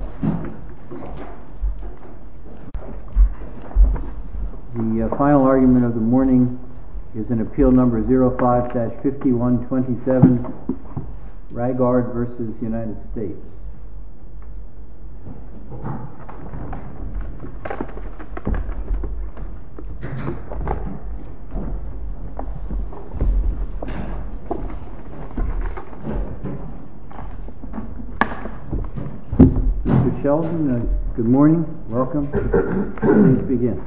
The final argument of the morning is in Appeal No. 05-5127, Raigard v. United States. Mr. Sheldon, good morning. Welcome. Please begin.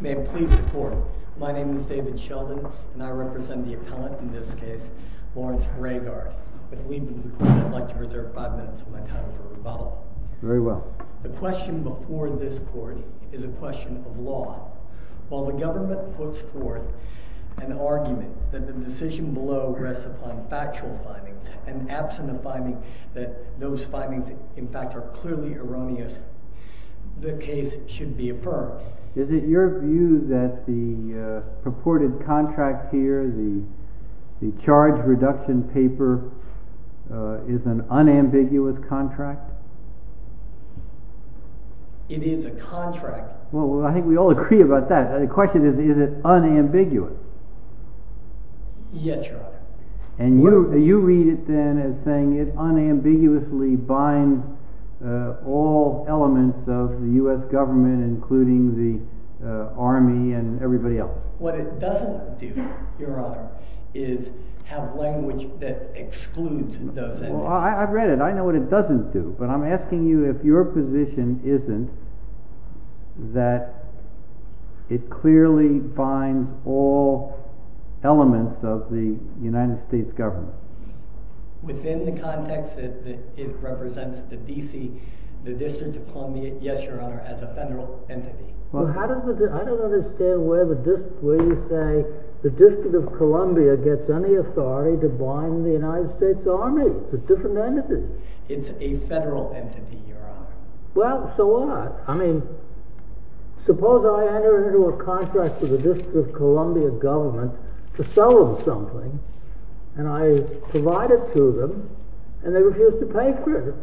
May it please the Court, my name is David Sheldon and I represent the appellant in this case, Lawrence Raigard. With leaving the Court, I'd like to reserve five minutes of my time for rebuttal. Very well. The question before this Court is a question of law. While the government puts forth an argument that the decision below rests upon factual findings, and absent a finding that those findings in fact are clearly erroneous, the case should be affirmed. Is it your view that the purported contract here, the charge reduction paper, is an unambiguous contract? It is a contract. Well, I think we all agree about that. The question is, is it unambiguous? Yes, Your Honor. And you read it then as saying it unambiguously binds all elements of the U.S. government, including the Army and everybody else. What it doesn't do, Your Honor, is have language that excludes those elements. I've read it. I know what it doesn't do. But I'm asking you if your position isn't that it clearly binds all elements of the United States government. Within the context that it represents the District of Columbia, yes, Your Honor, as a federal entity. Well, I don't understand where you say the District of Columbia gets any authority to bind the United States Army. It's a different entity. It's a federal entity, Your Honor. Well, so what? I mean, suppose I enter into a contract with the District of Columbia government to sell them something, and I provide it to them, and they refuse to pay for it.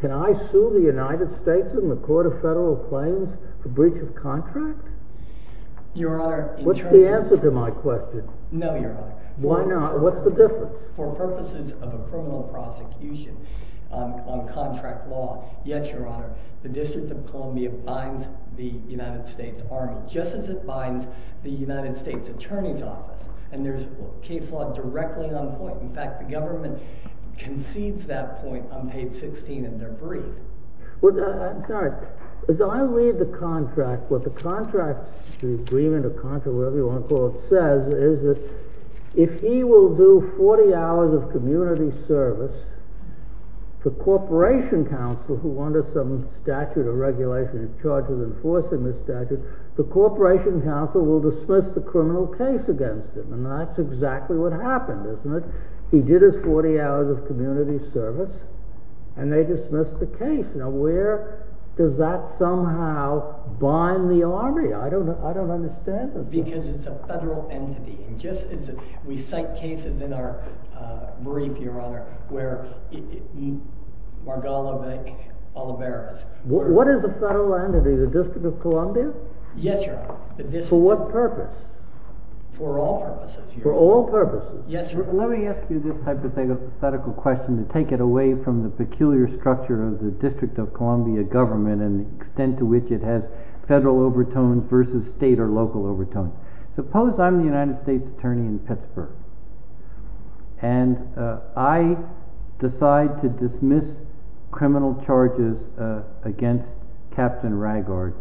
Can I sue the United States in the Court of Federal Claims for breach of contract? What's the answer to my question? No, Your Honor. Why not? What's the difference? For purposes of a criminal prosecution on contract law, yes, Your Honor, the District of Columbia binds the United States Army, just as it binds the United States Attorney's Office. And there's case law directly on point. In fact, the government concedes that point on page 16 in their brief. As I read the contract, what the contract, the agreement or contract, whatever you want to call it, says is that if he will do 40 hours of community service, the Corporation Council, who under some statute or regulation is charged with enforcing this statute, the Corporation Council will dismiss the criminal case against him. And that's exactly what happened, isn't it? He did his 40 hours of community service, and they dismissed the case. Now, where does that somehow bind the Army? I don't understand that. Because it's a federal entity. We cite cases in our brief, Your Honor, where Margolovic, Oliveras… What is a federal entity? The District of Columbia? Yes, Your Honor. For what purpose? For all purposes. For all purposes? Yes, Your Honor. Let me ask you this hypothetical question to take it away from the peculiar structure of the District of Columbia government and the extent to which it has federal overtone versus state or local overtone. Suppose I'm the United States Attorney in Pittsburgh, and I decide to dismiss criminal charges against Captain Raggard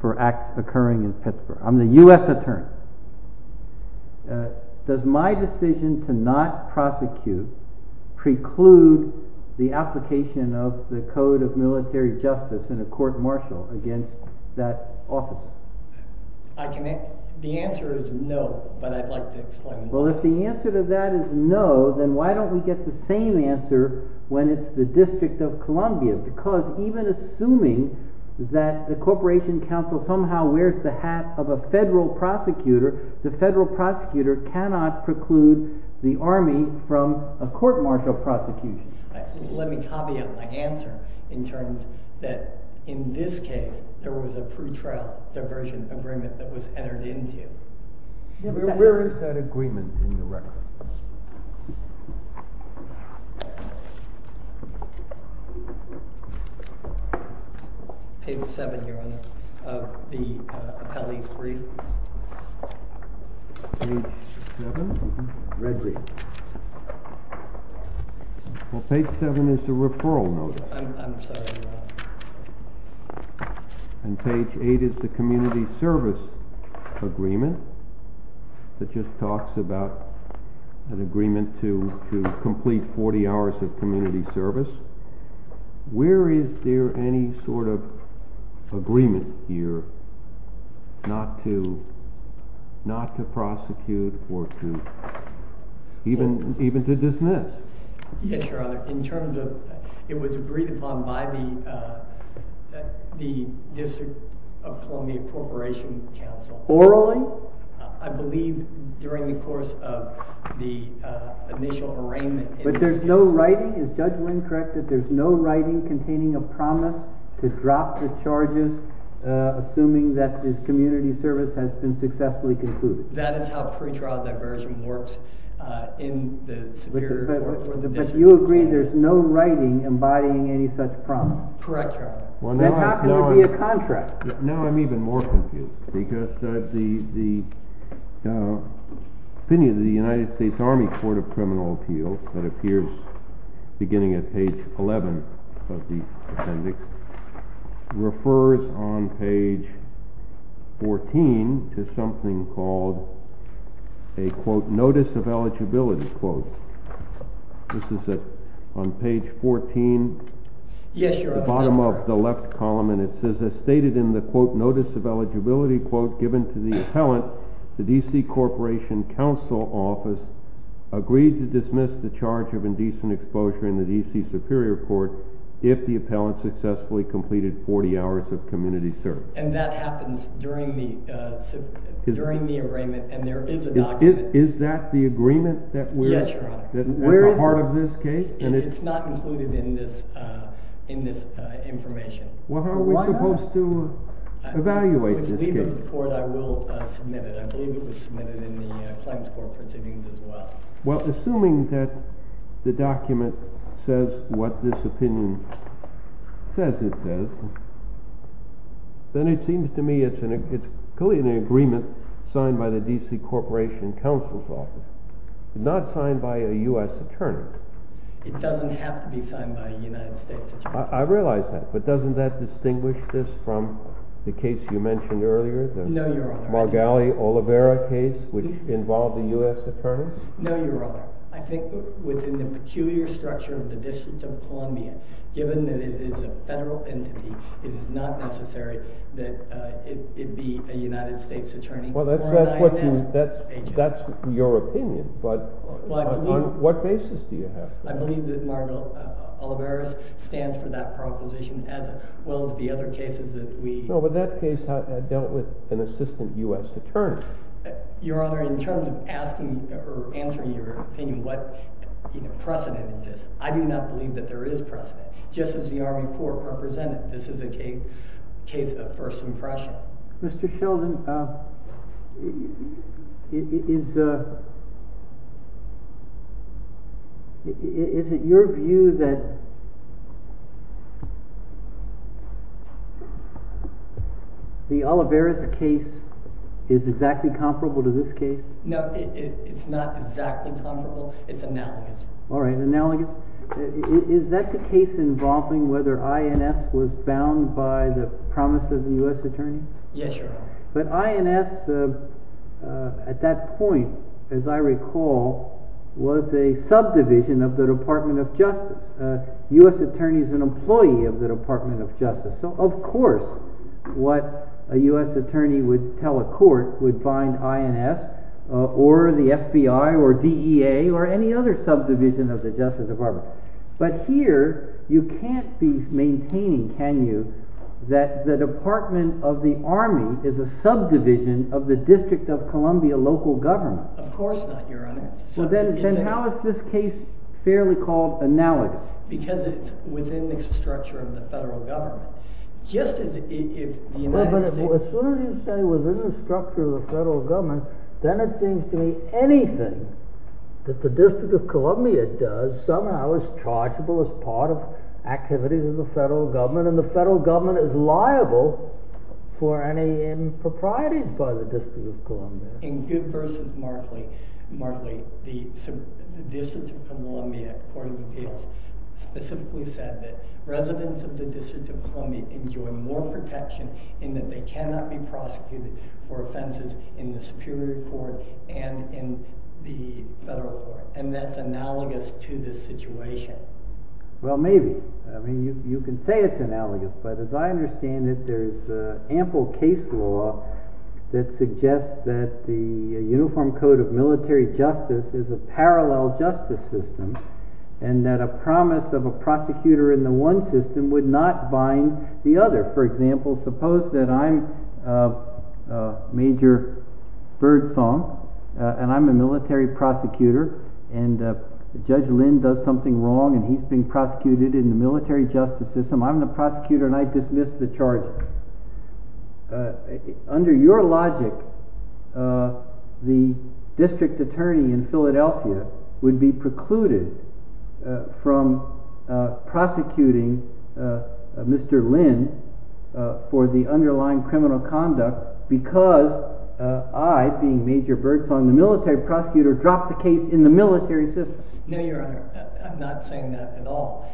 for acts occurring in Pittsburgh. I'm the U.S. Attorney. Does my decision to not prosecute preclude the application of the Code of Military Justice in a court-martial against that officer? The answer is no, but I'd like to explain why. Well, if the answer to that is no, then why don't we get the same answer when it's the District of Columbia? Because even assuming that the Corporation Council somehow wears the hat of a federal prosecutor, the federal prosecutor cannot preclude the Army from a court-martial prosecution. Let me copy out my answer in terms that, in this case, there was a pretrial diversion agreement that was entered into. Where is that agreement in the record? Page 7, Your Honor, of the appellee's brief. Page 7? Mm-hmm. Read read. Well, page 7 is the referral notice. I'm sorry, Your Honor. And page 8 is the community service agreement that just talks about an agreement to complete 40 hours of community service. Where is there any sort of agreement here not to prosecute or even to dismiss? Yes, Your Honor. In terms of, it was agreed upon by the District of Columbia Corporation Council. Orally? I believe during the course of the initial arraignment. But there's no writing, is Judge Wynn correct, that there's no writing containing a promise to drop the charges, assuming that this community service has been successfully concluded? That is how pretrial diversion works in the Superior Court for the District. But you agree there's no writing embodying any such promise? Correct, Your Honor. Then how can there be a contract? Now I'm even more confused because the opinion of the United States Army Court of Criminal Appeals that appears beginning at page 11 of the appendix refers on page 14 to something called a, quote, notice of eligibility, quote. This is on page 14. Yes, Your Honor. The bottom of the left column. And it says, as stated in the, quote, notice of eligibility, quote, given to the appellant, the D.C. Corporation Council Office agreed to dismiss the charge of indecent exposure in the D.C. Superior Court if the appellant successfully completed 40 hours of community service. And that happens during the arraignment. And there is a document. Is that the agreement that we're at the heart of this case? It's not included in this information. Well, how are we supposed to evaluate this case? I will submit it. I believe it was submitted in the claims court proceedings as well. Well, assuming that the document says what this opinion says it does, then it seems to me it's clearly an agreement signed by the D.C. Corporation Council's office, not signed by a U.S. attorney. It doesn't have to be signed by a United States attorney. I realize that. But doesn't that distinguish this from the case you mentioned earlier? No, Your Honor. The Margali Olivera case, which involved a U.S. attorney? No, Your Honor. I think within the peculiar structure of the District of Columbia, given that it is a federal entity, it is not necessary that it be a United States attorney or an I.N.S. agent. Well, that's your opinion. But on what basis do you have to? I believe that Margali Olivera stands for that proposition, as well as the other cases that we— No, but that case dealt with an assistant U.S. attorney. Your Honor, in terms of asking or answering your opinion, what precedent exists, I do not believe that there is precedent. Just as the Army Corps represented, this is a case of first impression. Mr. Sheldon, is it your view that the Olivera case is exactly comparable to this case? No, it's not exactly comparable. It's analogous. All right, analogous. Is that the case involving whether I.N.S. was bound by the promise of the U.S. attorney? Yes, Your Honor. But I.N.S., at that point, as I recall, was a subdivision of the Department of Justice. The U.S. attorney is an employee of the Department of Justice. So, of course, what a U.S. attorney would tell a court would bind I.N.S. or the FBI or DEA or any other subdivision of the Justice Department. But here, you can't be maintaining, can you, that the Department of the Army is a subdivision of the District of Columbia local government. Of course not, Your Honor. Then how is this case fairly called analogous? Because it's within the structure of the federal government. Just as if the United States... Well, but as soon as you say within the structure of the federal government, then it seems to me anything that the District of Columbia does somehow is chargeable as part of activities of the federal government, and the federal government is liable for any improprieties by the District of Columbia. In good verse of Markley, the District of Columbia Court of Appeals specifically said that residents of the District of Columbia enjoy more protection in that they cannot be prosecuted for offenses in the Superior Court and in the federal court. And that's analogous to this situation. Well, maybe. I mean, you can say it's analogous, but as I understand it, there's ample case law that suggests that the Uniform Code of Military Justice is a parallel justice system, and that a promise of a prosecutor in the one system would not bind the other. For example, suppose that I'm Major Birdsong, and I'm a military prosecutor, and Judge Lynn does something wrong and he's being prosecuted in the military justice system, I'm the prosecutor and I dismiss the charges. Under your logic, the district attorney in Philadelphia would be precluded from prosecuting Mr. Lynn for the underlying criminal conduct because I, being Major Birdsong, the military prosecutor, dropped the case in the military system. No, Your Honor. I'm not saying that at all.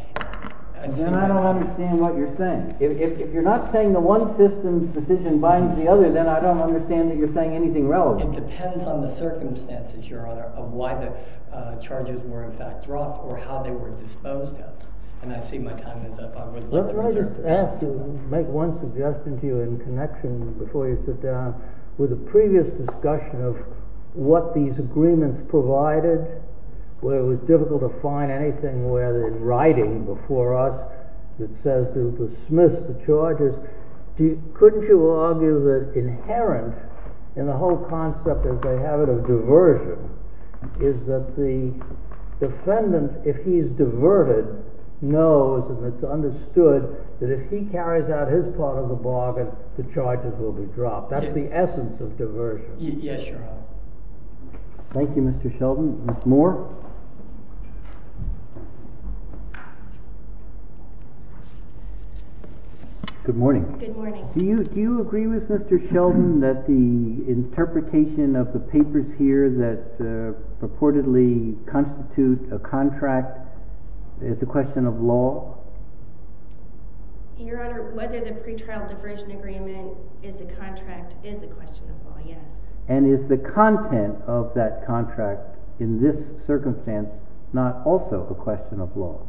Then I don't understand what you're saying. If you're not saying the one system's position binds the other, then I don't understand that you're saying anything relevant. It depends on the circumstances, Your Honor, of why the charges were in fact dropped or how they were disposed of. And I see my time is up. I have to make one suggestion to you in connection before you sit down. With the previous discussion of what these agreements provided, where it was difficult to find anything in writing before us that says to dismiss the charges, couldn't you argue that inherent in the whole concept, as they have it, of diversion, is that the defendant, if he's diverted, knows and it's understood that if he carries out his part of the bargain, the charges will be dropped. That's the essence of diversion. Yes, Your Honor. Thank you, Mr. Sheldon. Ms. Moore? Good morning. Good morning. Do you agree with Mr. Sheldon that the interpretation of the papers here that purportedly constitute a contract is a question of law? Your Honor, whether the pretrial diversion agreement is a contract is a question of law, yes. And is the content of that contract in this circumstance not also a question of law?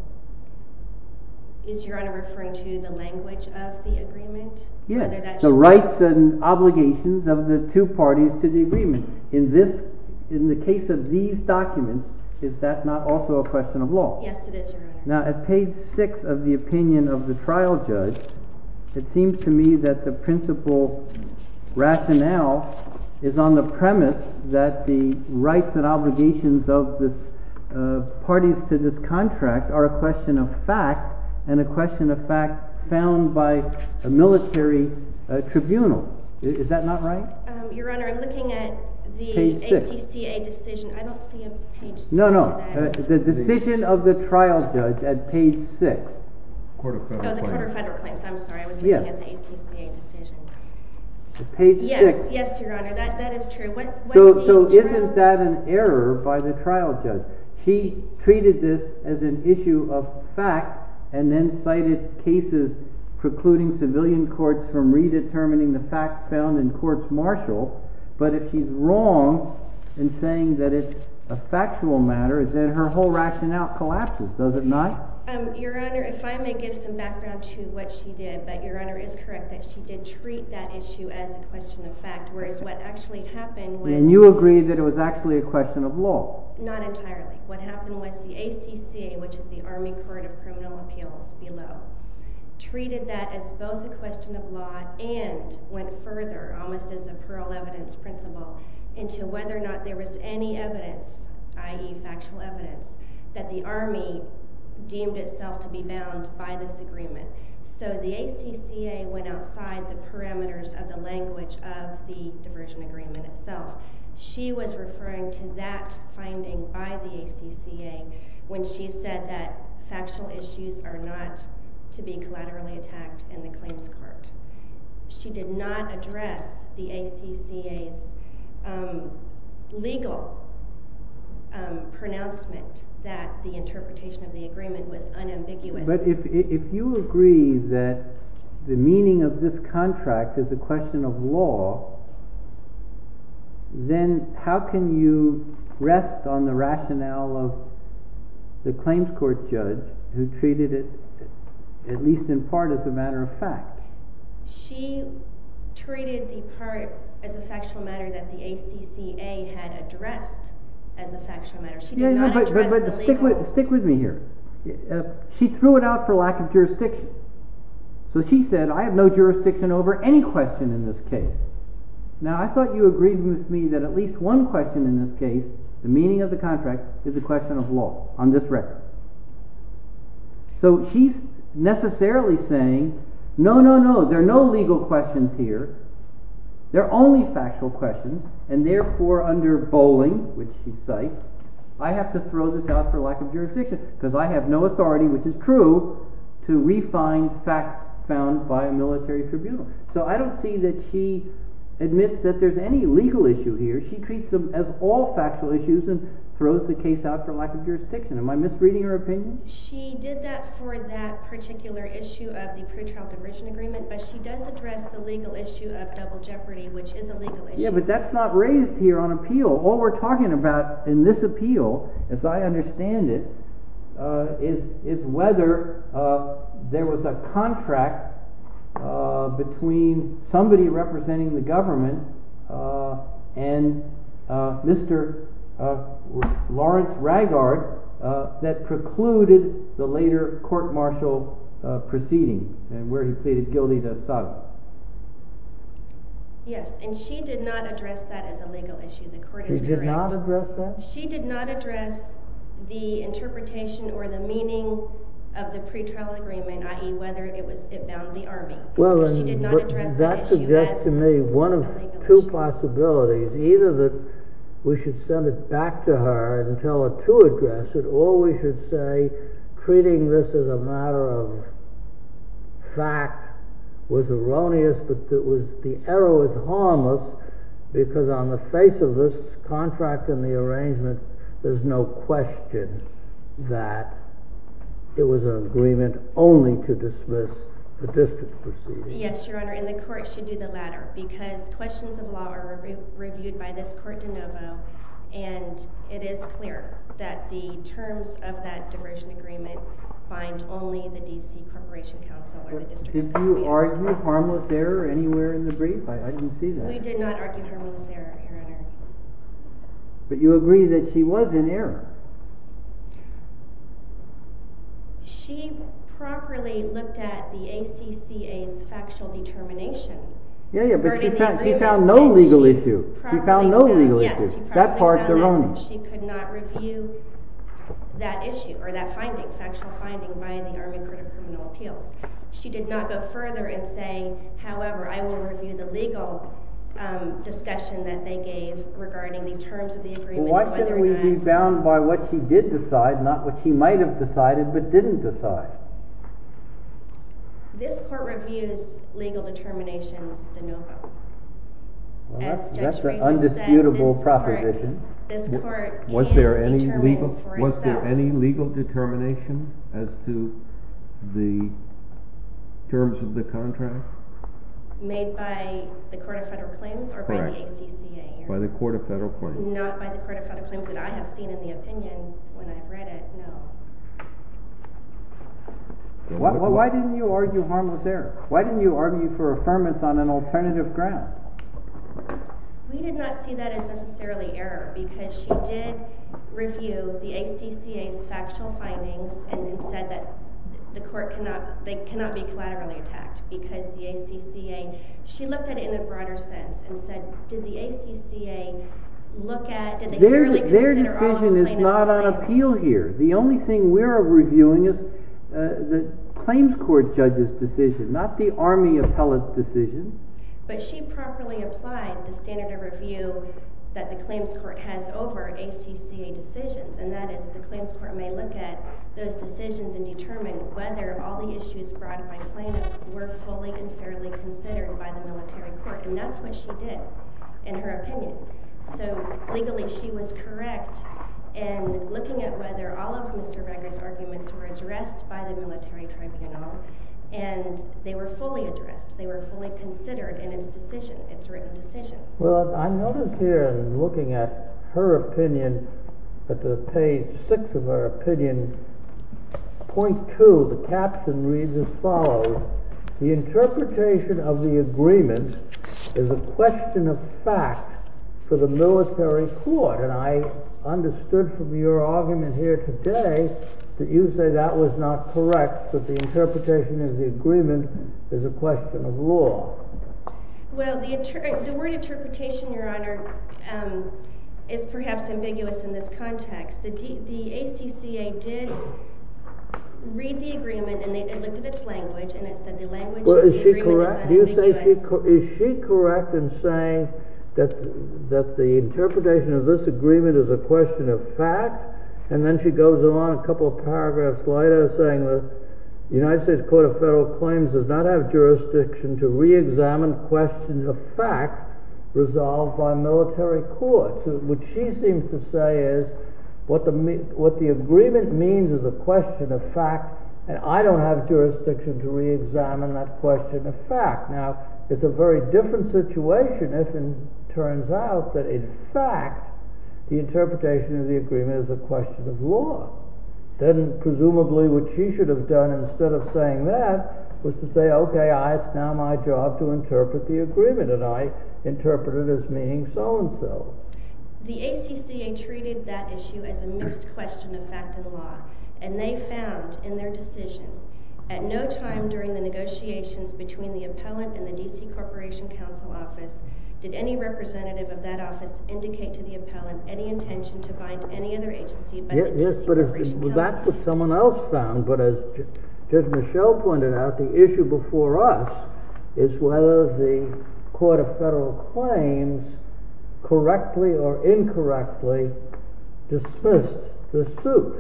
Is Your Honor referring to the language of the agreement? Yes, the rights and obligations of the two parties to the agreement. In the case of these documents, is that not also a question of law? Yes, it is, Your Honor. Now, at page 6 of the opinion of the trial judge, it seems to me that the principal rationale is on the premise that the rights and obligations of the parties to this contract are a question of fact and a question of fact found by a military tribunal. Is that not right? Your Honor, I'm looking at the ACCA decision. I don't see a page 6 of that. No, no. The decision of the trial judge at page 6. Oh, the court of federal claims. I'm sorry. I was looking at the ACCA decision. Page 6. Yes, Your Honor. That is true. So isn't that an error by the trial judge? She treated this as an issue of fact and then cited cases precluding civilian courts from redetermining the facts found in courts martial. But if she's wrong in saying that it's a factual matter, then her whole rationale collapses, does it not? Your Honor, if I may give some background to what she did. But Your Honor is correct that she did treat that issue as a question of fact, whereas what actually happened was— And you agree that it was actually a question of law? Not entirely. What happened was the ACCA, which is the Army Court of Criminal Appeals below, treated that as both a question of law and went further, almost as a plural evidence principle, into whether or not there was any evidence, i.e. factual evidence, that the Army deemed itself to be bound by this agreement. So the ACCA went outside the parameters of the language of the diversion agreement itself. She was referring to that finding by the ACCA when she said that factual issues are not to be collaterally attacked in the claims court. She did not address the ACCA's legal pronouncement that the interpretation of the agreement was unambiguous. But if you agree that the meaning of this contract is a question of law, then how can you rest on the rationale of the claims court judge who treated it at least in part as a matter of fact? She treated the part as a factual matter that the ACCA had addressed as a factual matter. Stick with me here. She threw it out for lack of jurisdiction. So she said, I have no jurisdiction over any question in this case. Now I thought you agreed with me that at least one question in this case, the meaning of the contract, is a question of law on this record. So she's necessarily saying, no, no, no, there are no legal questions here. There are only factual questions. And therefore under Bowling, which she cites, I have to throw this out for lack of jurisdiction because I have no authority, which is true, to refine facts found by a military tribunal. So I don't see that she admits that there's any legal issue here. She treats them as all factual issues and throws the case out for lack of jurisdiction. Am I misreading her opinion? She did that for that particular issue of the pretrial diversion agreement, but she does address the legal issue of double jeopardy, which is a legal issue. Yeah, but that's not raised here on appeal. So all we're talking about in this appeal, as I understand it, is whether there was a contract between somebody representing the government and Mr. Lawrence Raggard that precluded the later court-martial proceeding where he pleaded guilty to assault. Yes, and she did not address that as a legal issue. She did not address that? She did not address the interpretation or the meaning of the pretrial agreement, i.e., whether it bound the Army. That suggests to me one of two possibilities. Either that we should send it back to her and tell her to address it, or we should say treating this as a matter of fact was erroneous, but the error was harmless because on the face of this contract and the arrangement, there's no question that it was an agreement only to dismiss the distance proceeding. Yes, Your Honor, and the court should do the latter because questions of law are reviewed by this court de novo, and it is clear that the terms of that diversion agreement bind only the D.C. Corporation Council or the district. Did you argue harmless error anywhere in the brief? I didn't see that. We did not argue harmless error, Your Honor. But you agree that she was in error. She properly looked at the ACCA's factual determination. Yes, but she found no legal issue. She found no legal issue. That part's erroneous. She could not review that issue or that finding, factual finding, by the Army Court of Criminal Appeals. She did not go further in saying, however, I will review the legal discussion that they gave regarding the terms of the agreement and whether or not— Well, why couldn't we be bound by what she did decide, not what she might have decided but didn't decide? This court reviews legal determinations de novo. That's an undisputable proposition. Was there any legal determination as to the terms of the contract? Made by the Court of Federal Claims or by the ACCA? By the Court of Federal Claims. Not by the Court of Federal Claims that I have seen in the opinion when I read it, no. Why didn't you argue harmless error? Why didn't you argue for affirmance on an alternative ground? We did not see that as necessarily error because she did review the ACCA's factual findings and said that the court cannot be collaterally attacked because the ACCA— She looked at it in a broader sense and said, did the ACCA look at— Their decision is not on appeal here. The only thing we're reviewing is the claims court judge's decision, not the Army appellate's decision. But she properly applied the standard of review that the claims court has over ACCA decisions, and that is the claims court may look at those decisions and determine whether all the issues brought by plaintiff were fully and fairly considered by the military court, and that's what she did, in her opinion. So, legally, she was correct in looking at whether all of Mr. Becker's arguments were addressed by the military tribunal, and they were fully addressed. They were fully considered in its decision, its written decision. Well, I noticed here in looking at her opinion, at the page 6 of her opinion, point 2, the caption reads as follows. The interpretation of the agreement is a question of fact for the military court, and I understood from your argument here today that you say that was not correct, that the interpretation of the agreement is a question of law. Well, the word interpretation, Your Honor, is perhaps ambiguous in this context. The ACCA did read the agreement, and they looked at its language, and it said the language of the agreement is ambiguous. Is she correct in saying that the interpretation of this agreement is a question of fact? And then she goes on a couple of paragraphs later, saying the United States Court of Federal Claims does not have jurisdiction to reexamine questions of fact resolved by military courts. What she seems to say is what the agreement means is a question of fact, and I don't have jurisdiction to reexamine that question of fact. Now, it's a very different situation, as it turns out, that in fact the interpretation of the agreement is a question of law. Then, presumably, what she should have done instead of saying that was to say, OK, it's now my job to interpret the agreement, and I interpret it as meaning so-and-so. The ACCA treated that issue as a missed question of fact and law, and they found in their decision at no time during the negotiations between the appellant and the D.C. Corporation Counsel Office did any representative of that office indicate to the appellant any intention to bind any other agency by the D.C. Corporation Counsel Office. That's what someone else found, but as Judge Michelle pointed out, the issue before us is whether the Court of Federal Claims correctly or incorrectly dismissed the suit.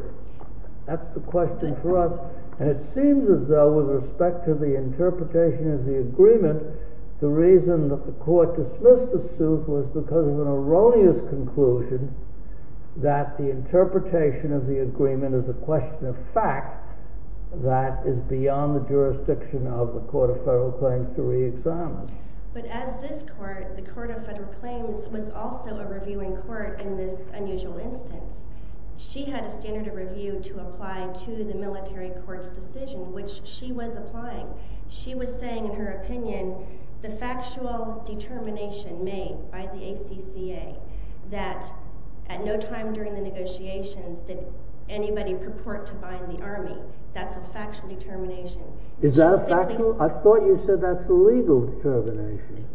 That's the question for us, and it seems as though with respect to the interpretation of the agreement, the reason that the Court dismissed the suit was because of an erroneous conclusion that the interpretation of the agreement is a question of fact that is beyond the jurisdiction of the Court of Federal Claims to reexamine. But as this Court, the Court of Federal Claims, was also a reviewing court in this unusual instance. She had a standard of review to apply to the military court's decision, which she was applying. She was saying in her opinion the factual determination made by the ACCA that at no time during the negotiations did anybody purport to bind the Army. That's a factual determination. Is that a factual? I thought you said that's a legal determination.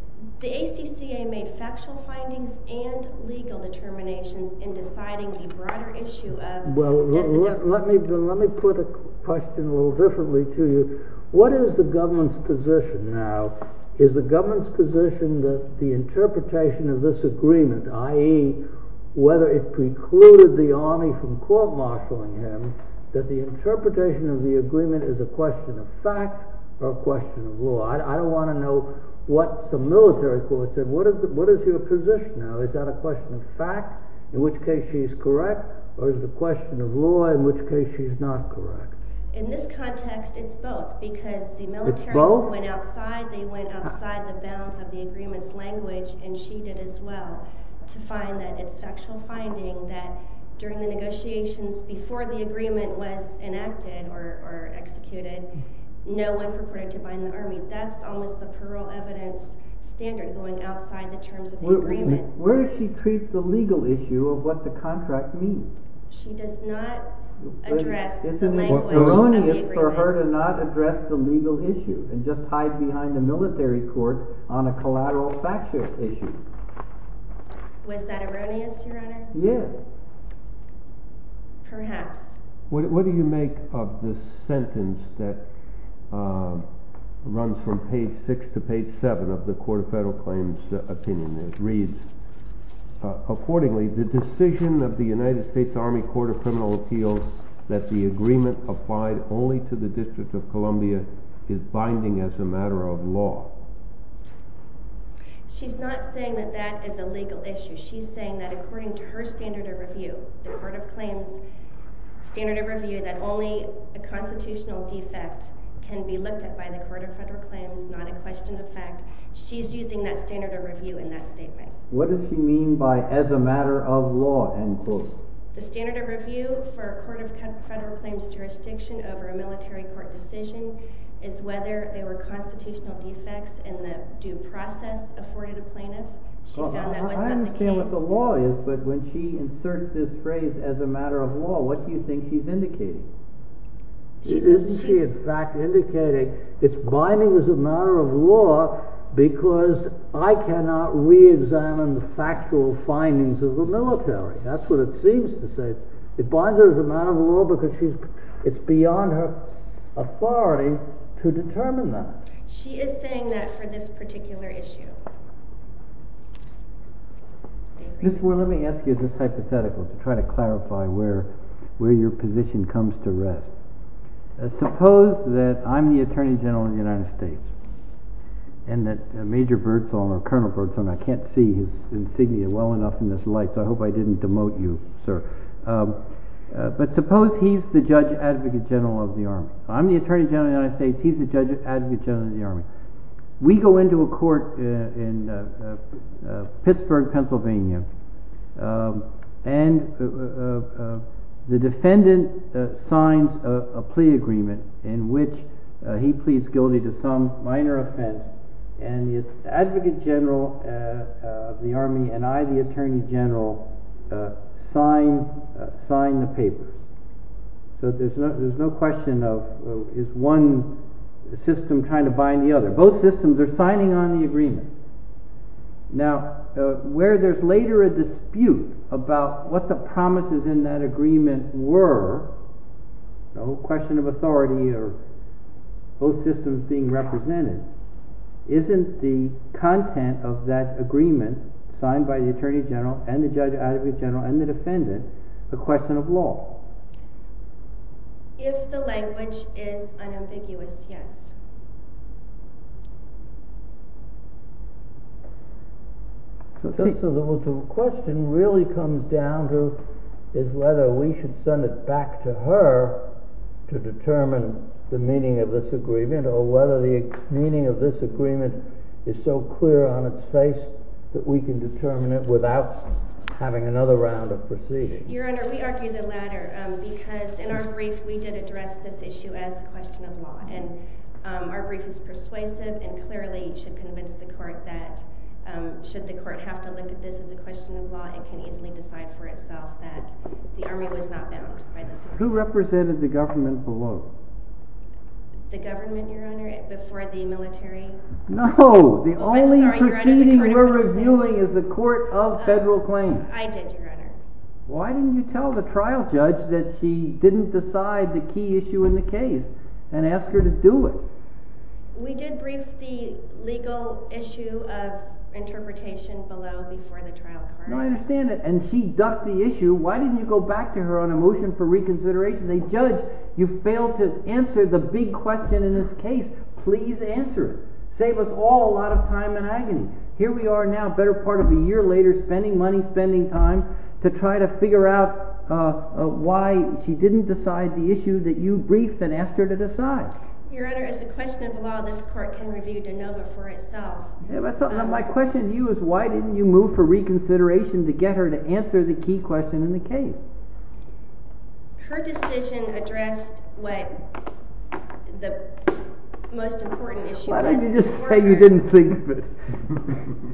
The ACCA made factual findings and legal determinations in deciding the broader issue of… Let me put the question a little differently to you. What is the government's position now? Is the government's position that the interpretation of this agreement, i.e., whether it precluded the Army from court-martialing him, that the interpretation of the agreement is a question of fact or a question of law? I don't want to know what the military court said. What is your position now? Is that a question of fact, in which case she's correct, or is it a question of law, in which case she's not correct? In this context, it's both, because the military went outside the bounds of the agreement's language, and she did as well, to find that it's factual finding that during the negotiations before the agreement was enacted or executed, no one purported to bind the Army. That's almost the plural evidence standard going outside the terms of the agreement. Where does she treat the legal issue of what the contract means? She does not address the language of the agreement. But isn't it erroneous for her to not address the legal issue and just hide behind the military court on a collateral factual issue? Was that erroneous, Your Honor? Yes. Perhaps. What do you make of the sentence that runs from page 6 to page 7 of the Court of Federal Claims opinion? It reads, Accordingly, the decision of the United States Army Court of Criminal Appeals that the agreement applied only to the District of Columbia is binding as a matter of law. She's not saying that that is a legal issue. She's saying that according to her standard of review, the Court of Claims standard of review, that only a constitutional defect can be looked at by the Court of Federal Claims, not a question of fact. She's using that standard of review in that statement. What does she mean by, as a matter of law? The standard of review for a Court of Federal Claims jurisdiction over a military court decision is whether there were constitutional defects in the due process afforded a plaintiff. I understand what the law is, but when she inserts this phrase, as a matter of law, what do you think she's indicating? Isn't she, in fact, indicating it's binding as a matter of law because I cannot re-examine the factual findings of the military? That's what it seems to say. It binds it as a matter of law because it's beyond her authority to determine that. She is saying that for this particular issue. Mr. Warren, let me ask you this hypothetical to try to clarify where your position comes to rest. Suppose that I'm the Attorney General of the United States, and that Major Birdsong, or Colonel Birdsong, I can't see his insignia well enough in this light, so I hope I didn't demote you, sir. But suppose he's the Judge Advocate General of the Army. I'm the Attorney General of the United States, he's the Judge Advocate General of the Army. We go into a court in Pittsburgh, Pennsylvania, and the defendant signs a plea agreement in which he pleads guilty to some minor offense, and the Advocate General of the Army and I, the Attorney General, sign the papers. So there's no question of is one system trying to bind the other. Both systems are signing on the agreement. Now, where there's later a dispute about what the promises in that agreement were, no question of authority or both systems being represented, isn't the content of that agreement signed by the Attorney General and the Judge Advocate General and the defendant a question of law? If the language is unambiguous, yes. So the question really comes down to is whether we should send it back to her to determine the meaning of this agreement, or whether the meaning of this agreement is so clear on its face that we can determine it without having another round of proceedings. Your Honor, we argue the latter, because in our brief we did address this issue as a question of law, and our brief is persuasive and clearly should convince the court that should the court have to look at this as a question of law, it can easily decide for itself that the Army was not bound by this agreement. Who represented the government below? The government, Your Honor, before the military? No, the only proceeding we're reviewing is the Court of Federal Claims. I did, Your Honor. Why didn't you tell the trial judge that she didn't decide the key issue in the case, and ask her to do it? We did brief the legal issue of interpretation below before the trial. I understand that, and she ducked the issue. Why didn't you go back to her on a motion for reconsideration? Your Honor, as a judge, you failed to answer the big question in this case. Please answer it. Save us all a lot of time and agony. Here we are now, a better part of a year later, spending money, spending time, to try to figure out why she didn't decide the issue that you briefed and asked her to decide. Your Honor, as a question of law, this court can review DeNova for itself. My question to you is why didn't you move for reconsideration to get her to answer the key question in the case? Her decision addressed what the most important issue was. Why don't you just say you didn't think that?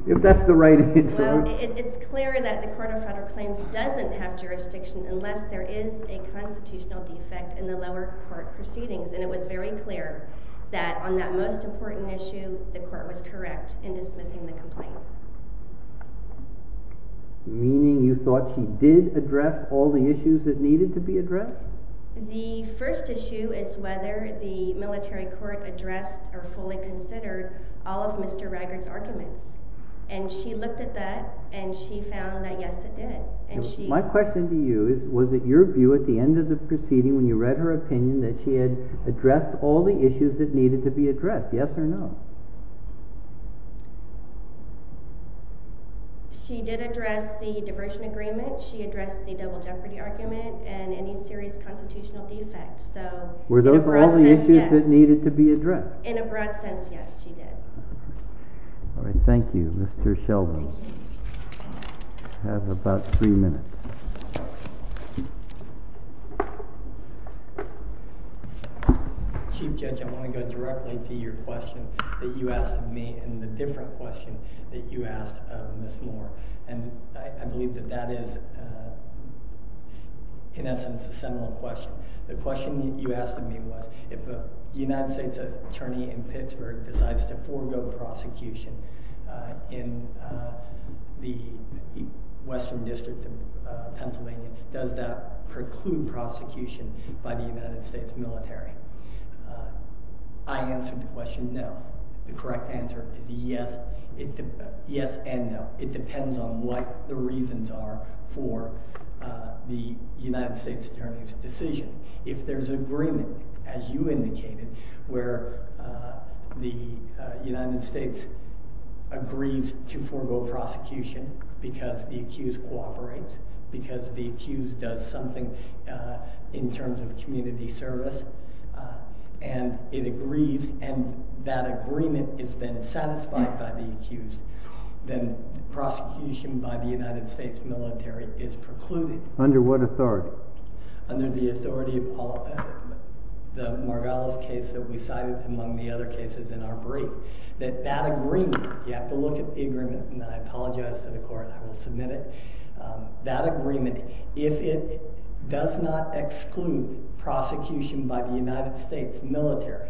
If that's the right answer. Well, it's clear that the Court of Federal Claims doesn't have jurisdiction unless there is a constitutional defect in the lower court proceedings. And it was very clear that on that most important issue, the court was correct in dismissing the complaint. Meaning you thought she did address all the issues that needed to be addressed? The first issue is whether the military court addressed or fully considered all of Mr. Raggard's arguments. And she looked at that and she found that yes, it did. My question to you is, was it your view at the end of the proceeding when you read her opinion that she had addressed all the issues that needed to be addressed? Yes or no? She did address the diversion agreement. She addressed the double jeopardy argument and any serious constitutional defects. Were those all the issues that needed to be addressed? In a broad sense, yes, she did. Thank you, Mr. Shelby. You have about three minutes. Chief Judge, I want to go directly to your question that you asked of me and the different question that you asked of Ms. Moore. And I believe that that is in essence a similar question. The question that you asked of me was, if a United States attorney in Pittsburgh decides to forego prosecution in the Western District of Pennsylvania, does that preclude prosecution by the United States military? I answered the question no. The correct answer is yes and no. It depends on what the reasons are for the United States attorney's decision. If there's agreement, as you indicated, where the United States agrees to forego prosecution because the accused cooperates, because the accused does something in terms of community service, and it agrees and that agreement is then satisfied by the accused, then prosecution by the United States military is precluded. Under what authority? Under the authority of the Margalis case that we cited among the other cases in our brief. You have to look at the agreement, and I apologize to the court. I will submit it. That agreement, if it does not exclude prosecution by the United States military,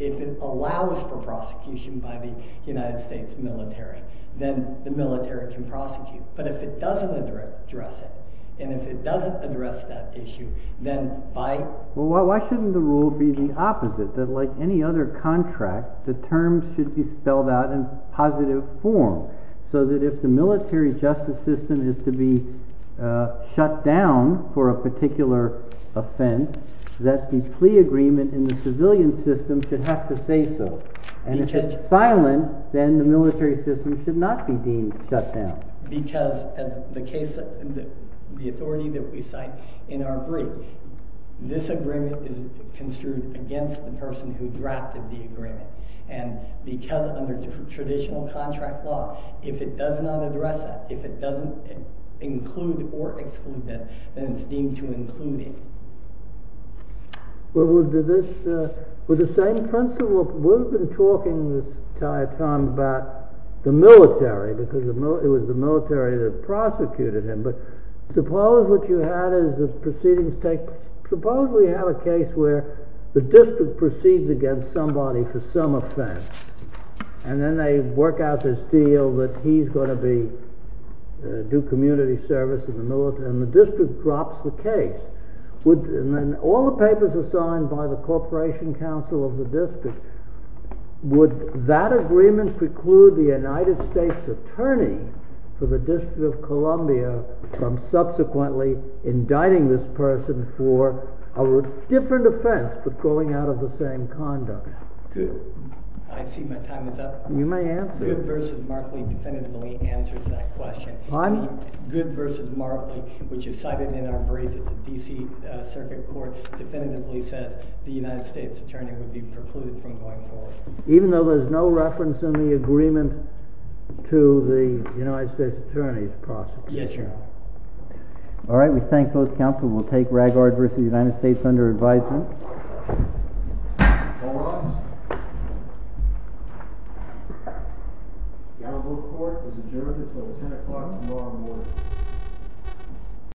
if it allows for prosecution by the United States military, then the military can prosecute. But if it doesn't address it, and if it doesn't address that issue, then by— should be spelled out in positive form, so that if the military justice system is to be shut down for a particular offense, that the plea agreement in the civilian system should have to say so. And if it's silent, then the military system should not be deemed shut down. Because as the authority that we cite in our brief, this agreement is construed against the person who drafted the agreement. And because under traditional contract law, if it does not address that, if it doesn't include or exclude that, then it's deemed to include it. With the same principle, we've been talking this entire time about the military, because it was the military that prosecuted him. But suppose what you had is the proceedings take—suppose we had a case where the district proceeds against somebody for some offense, and then they work out this deal that he's going to be—do community service in the military, and the district drops the case. And then all the papers are signed by the corporation counsel of the district. Would that agreement preclude the United States attorney for the District of Columbia from subsequently indicting this person for a different offense for going out of the same conduct? I see my time is up. You may answer. Good v. Markley definitively answers that question. Pardon me? Good v. Markley, which is cited in our brief at the D.C. Circuit Court, definitively says the United States attorney would be precluded from going forward. Even though there's no reference in the agreement to the United States attorney's prosecution? Yes, Your Honor. All right. We thank both counsel. We'll take Raggard v. United States under advisement. All rise. The honorable court has adjourned until 10 o'clock tomorrow morning.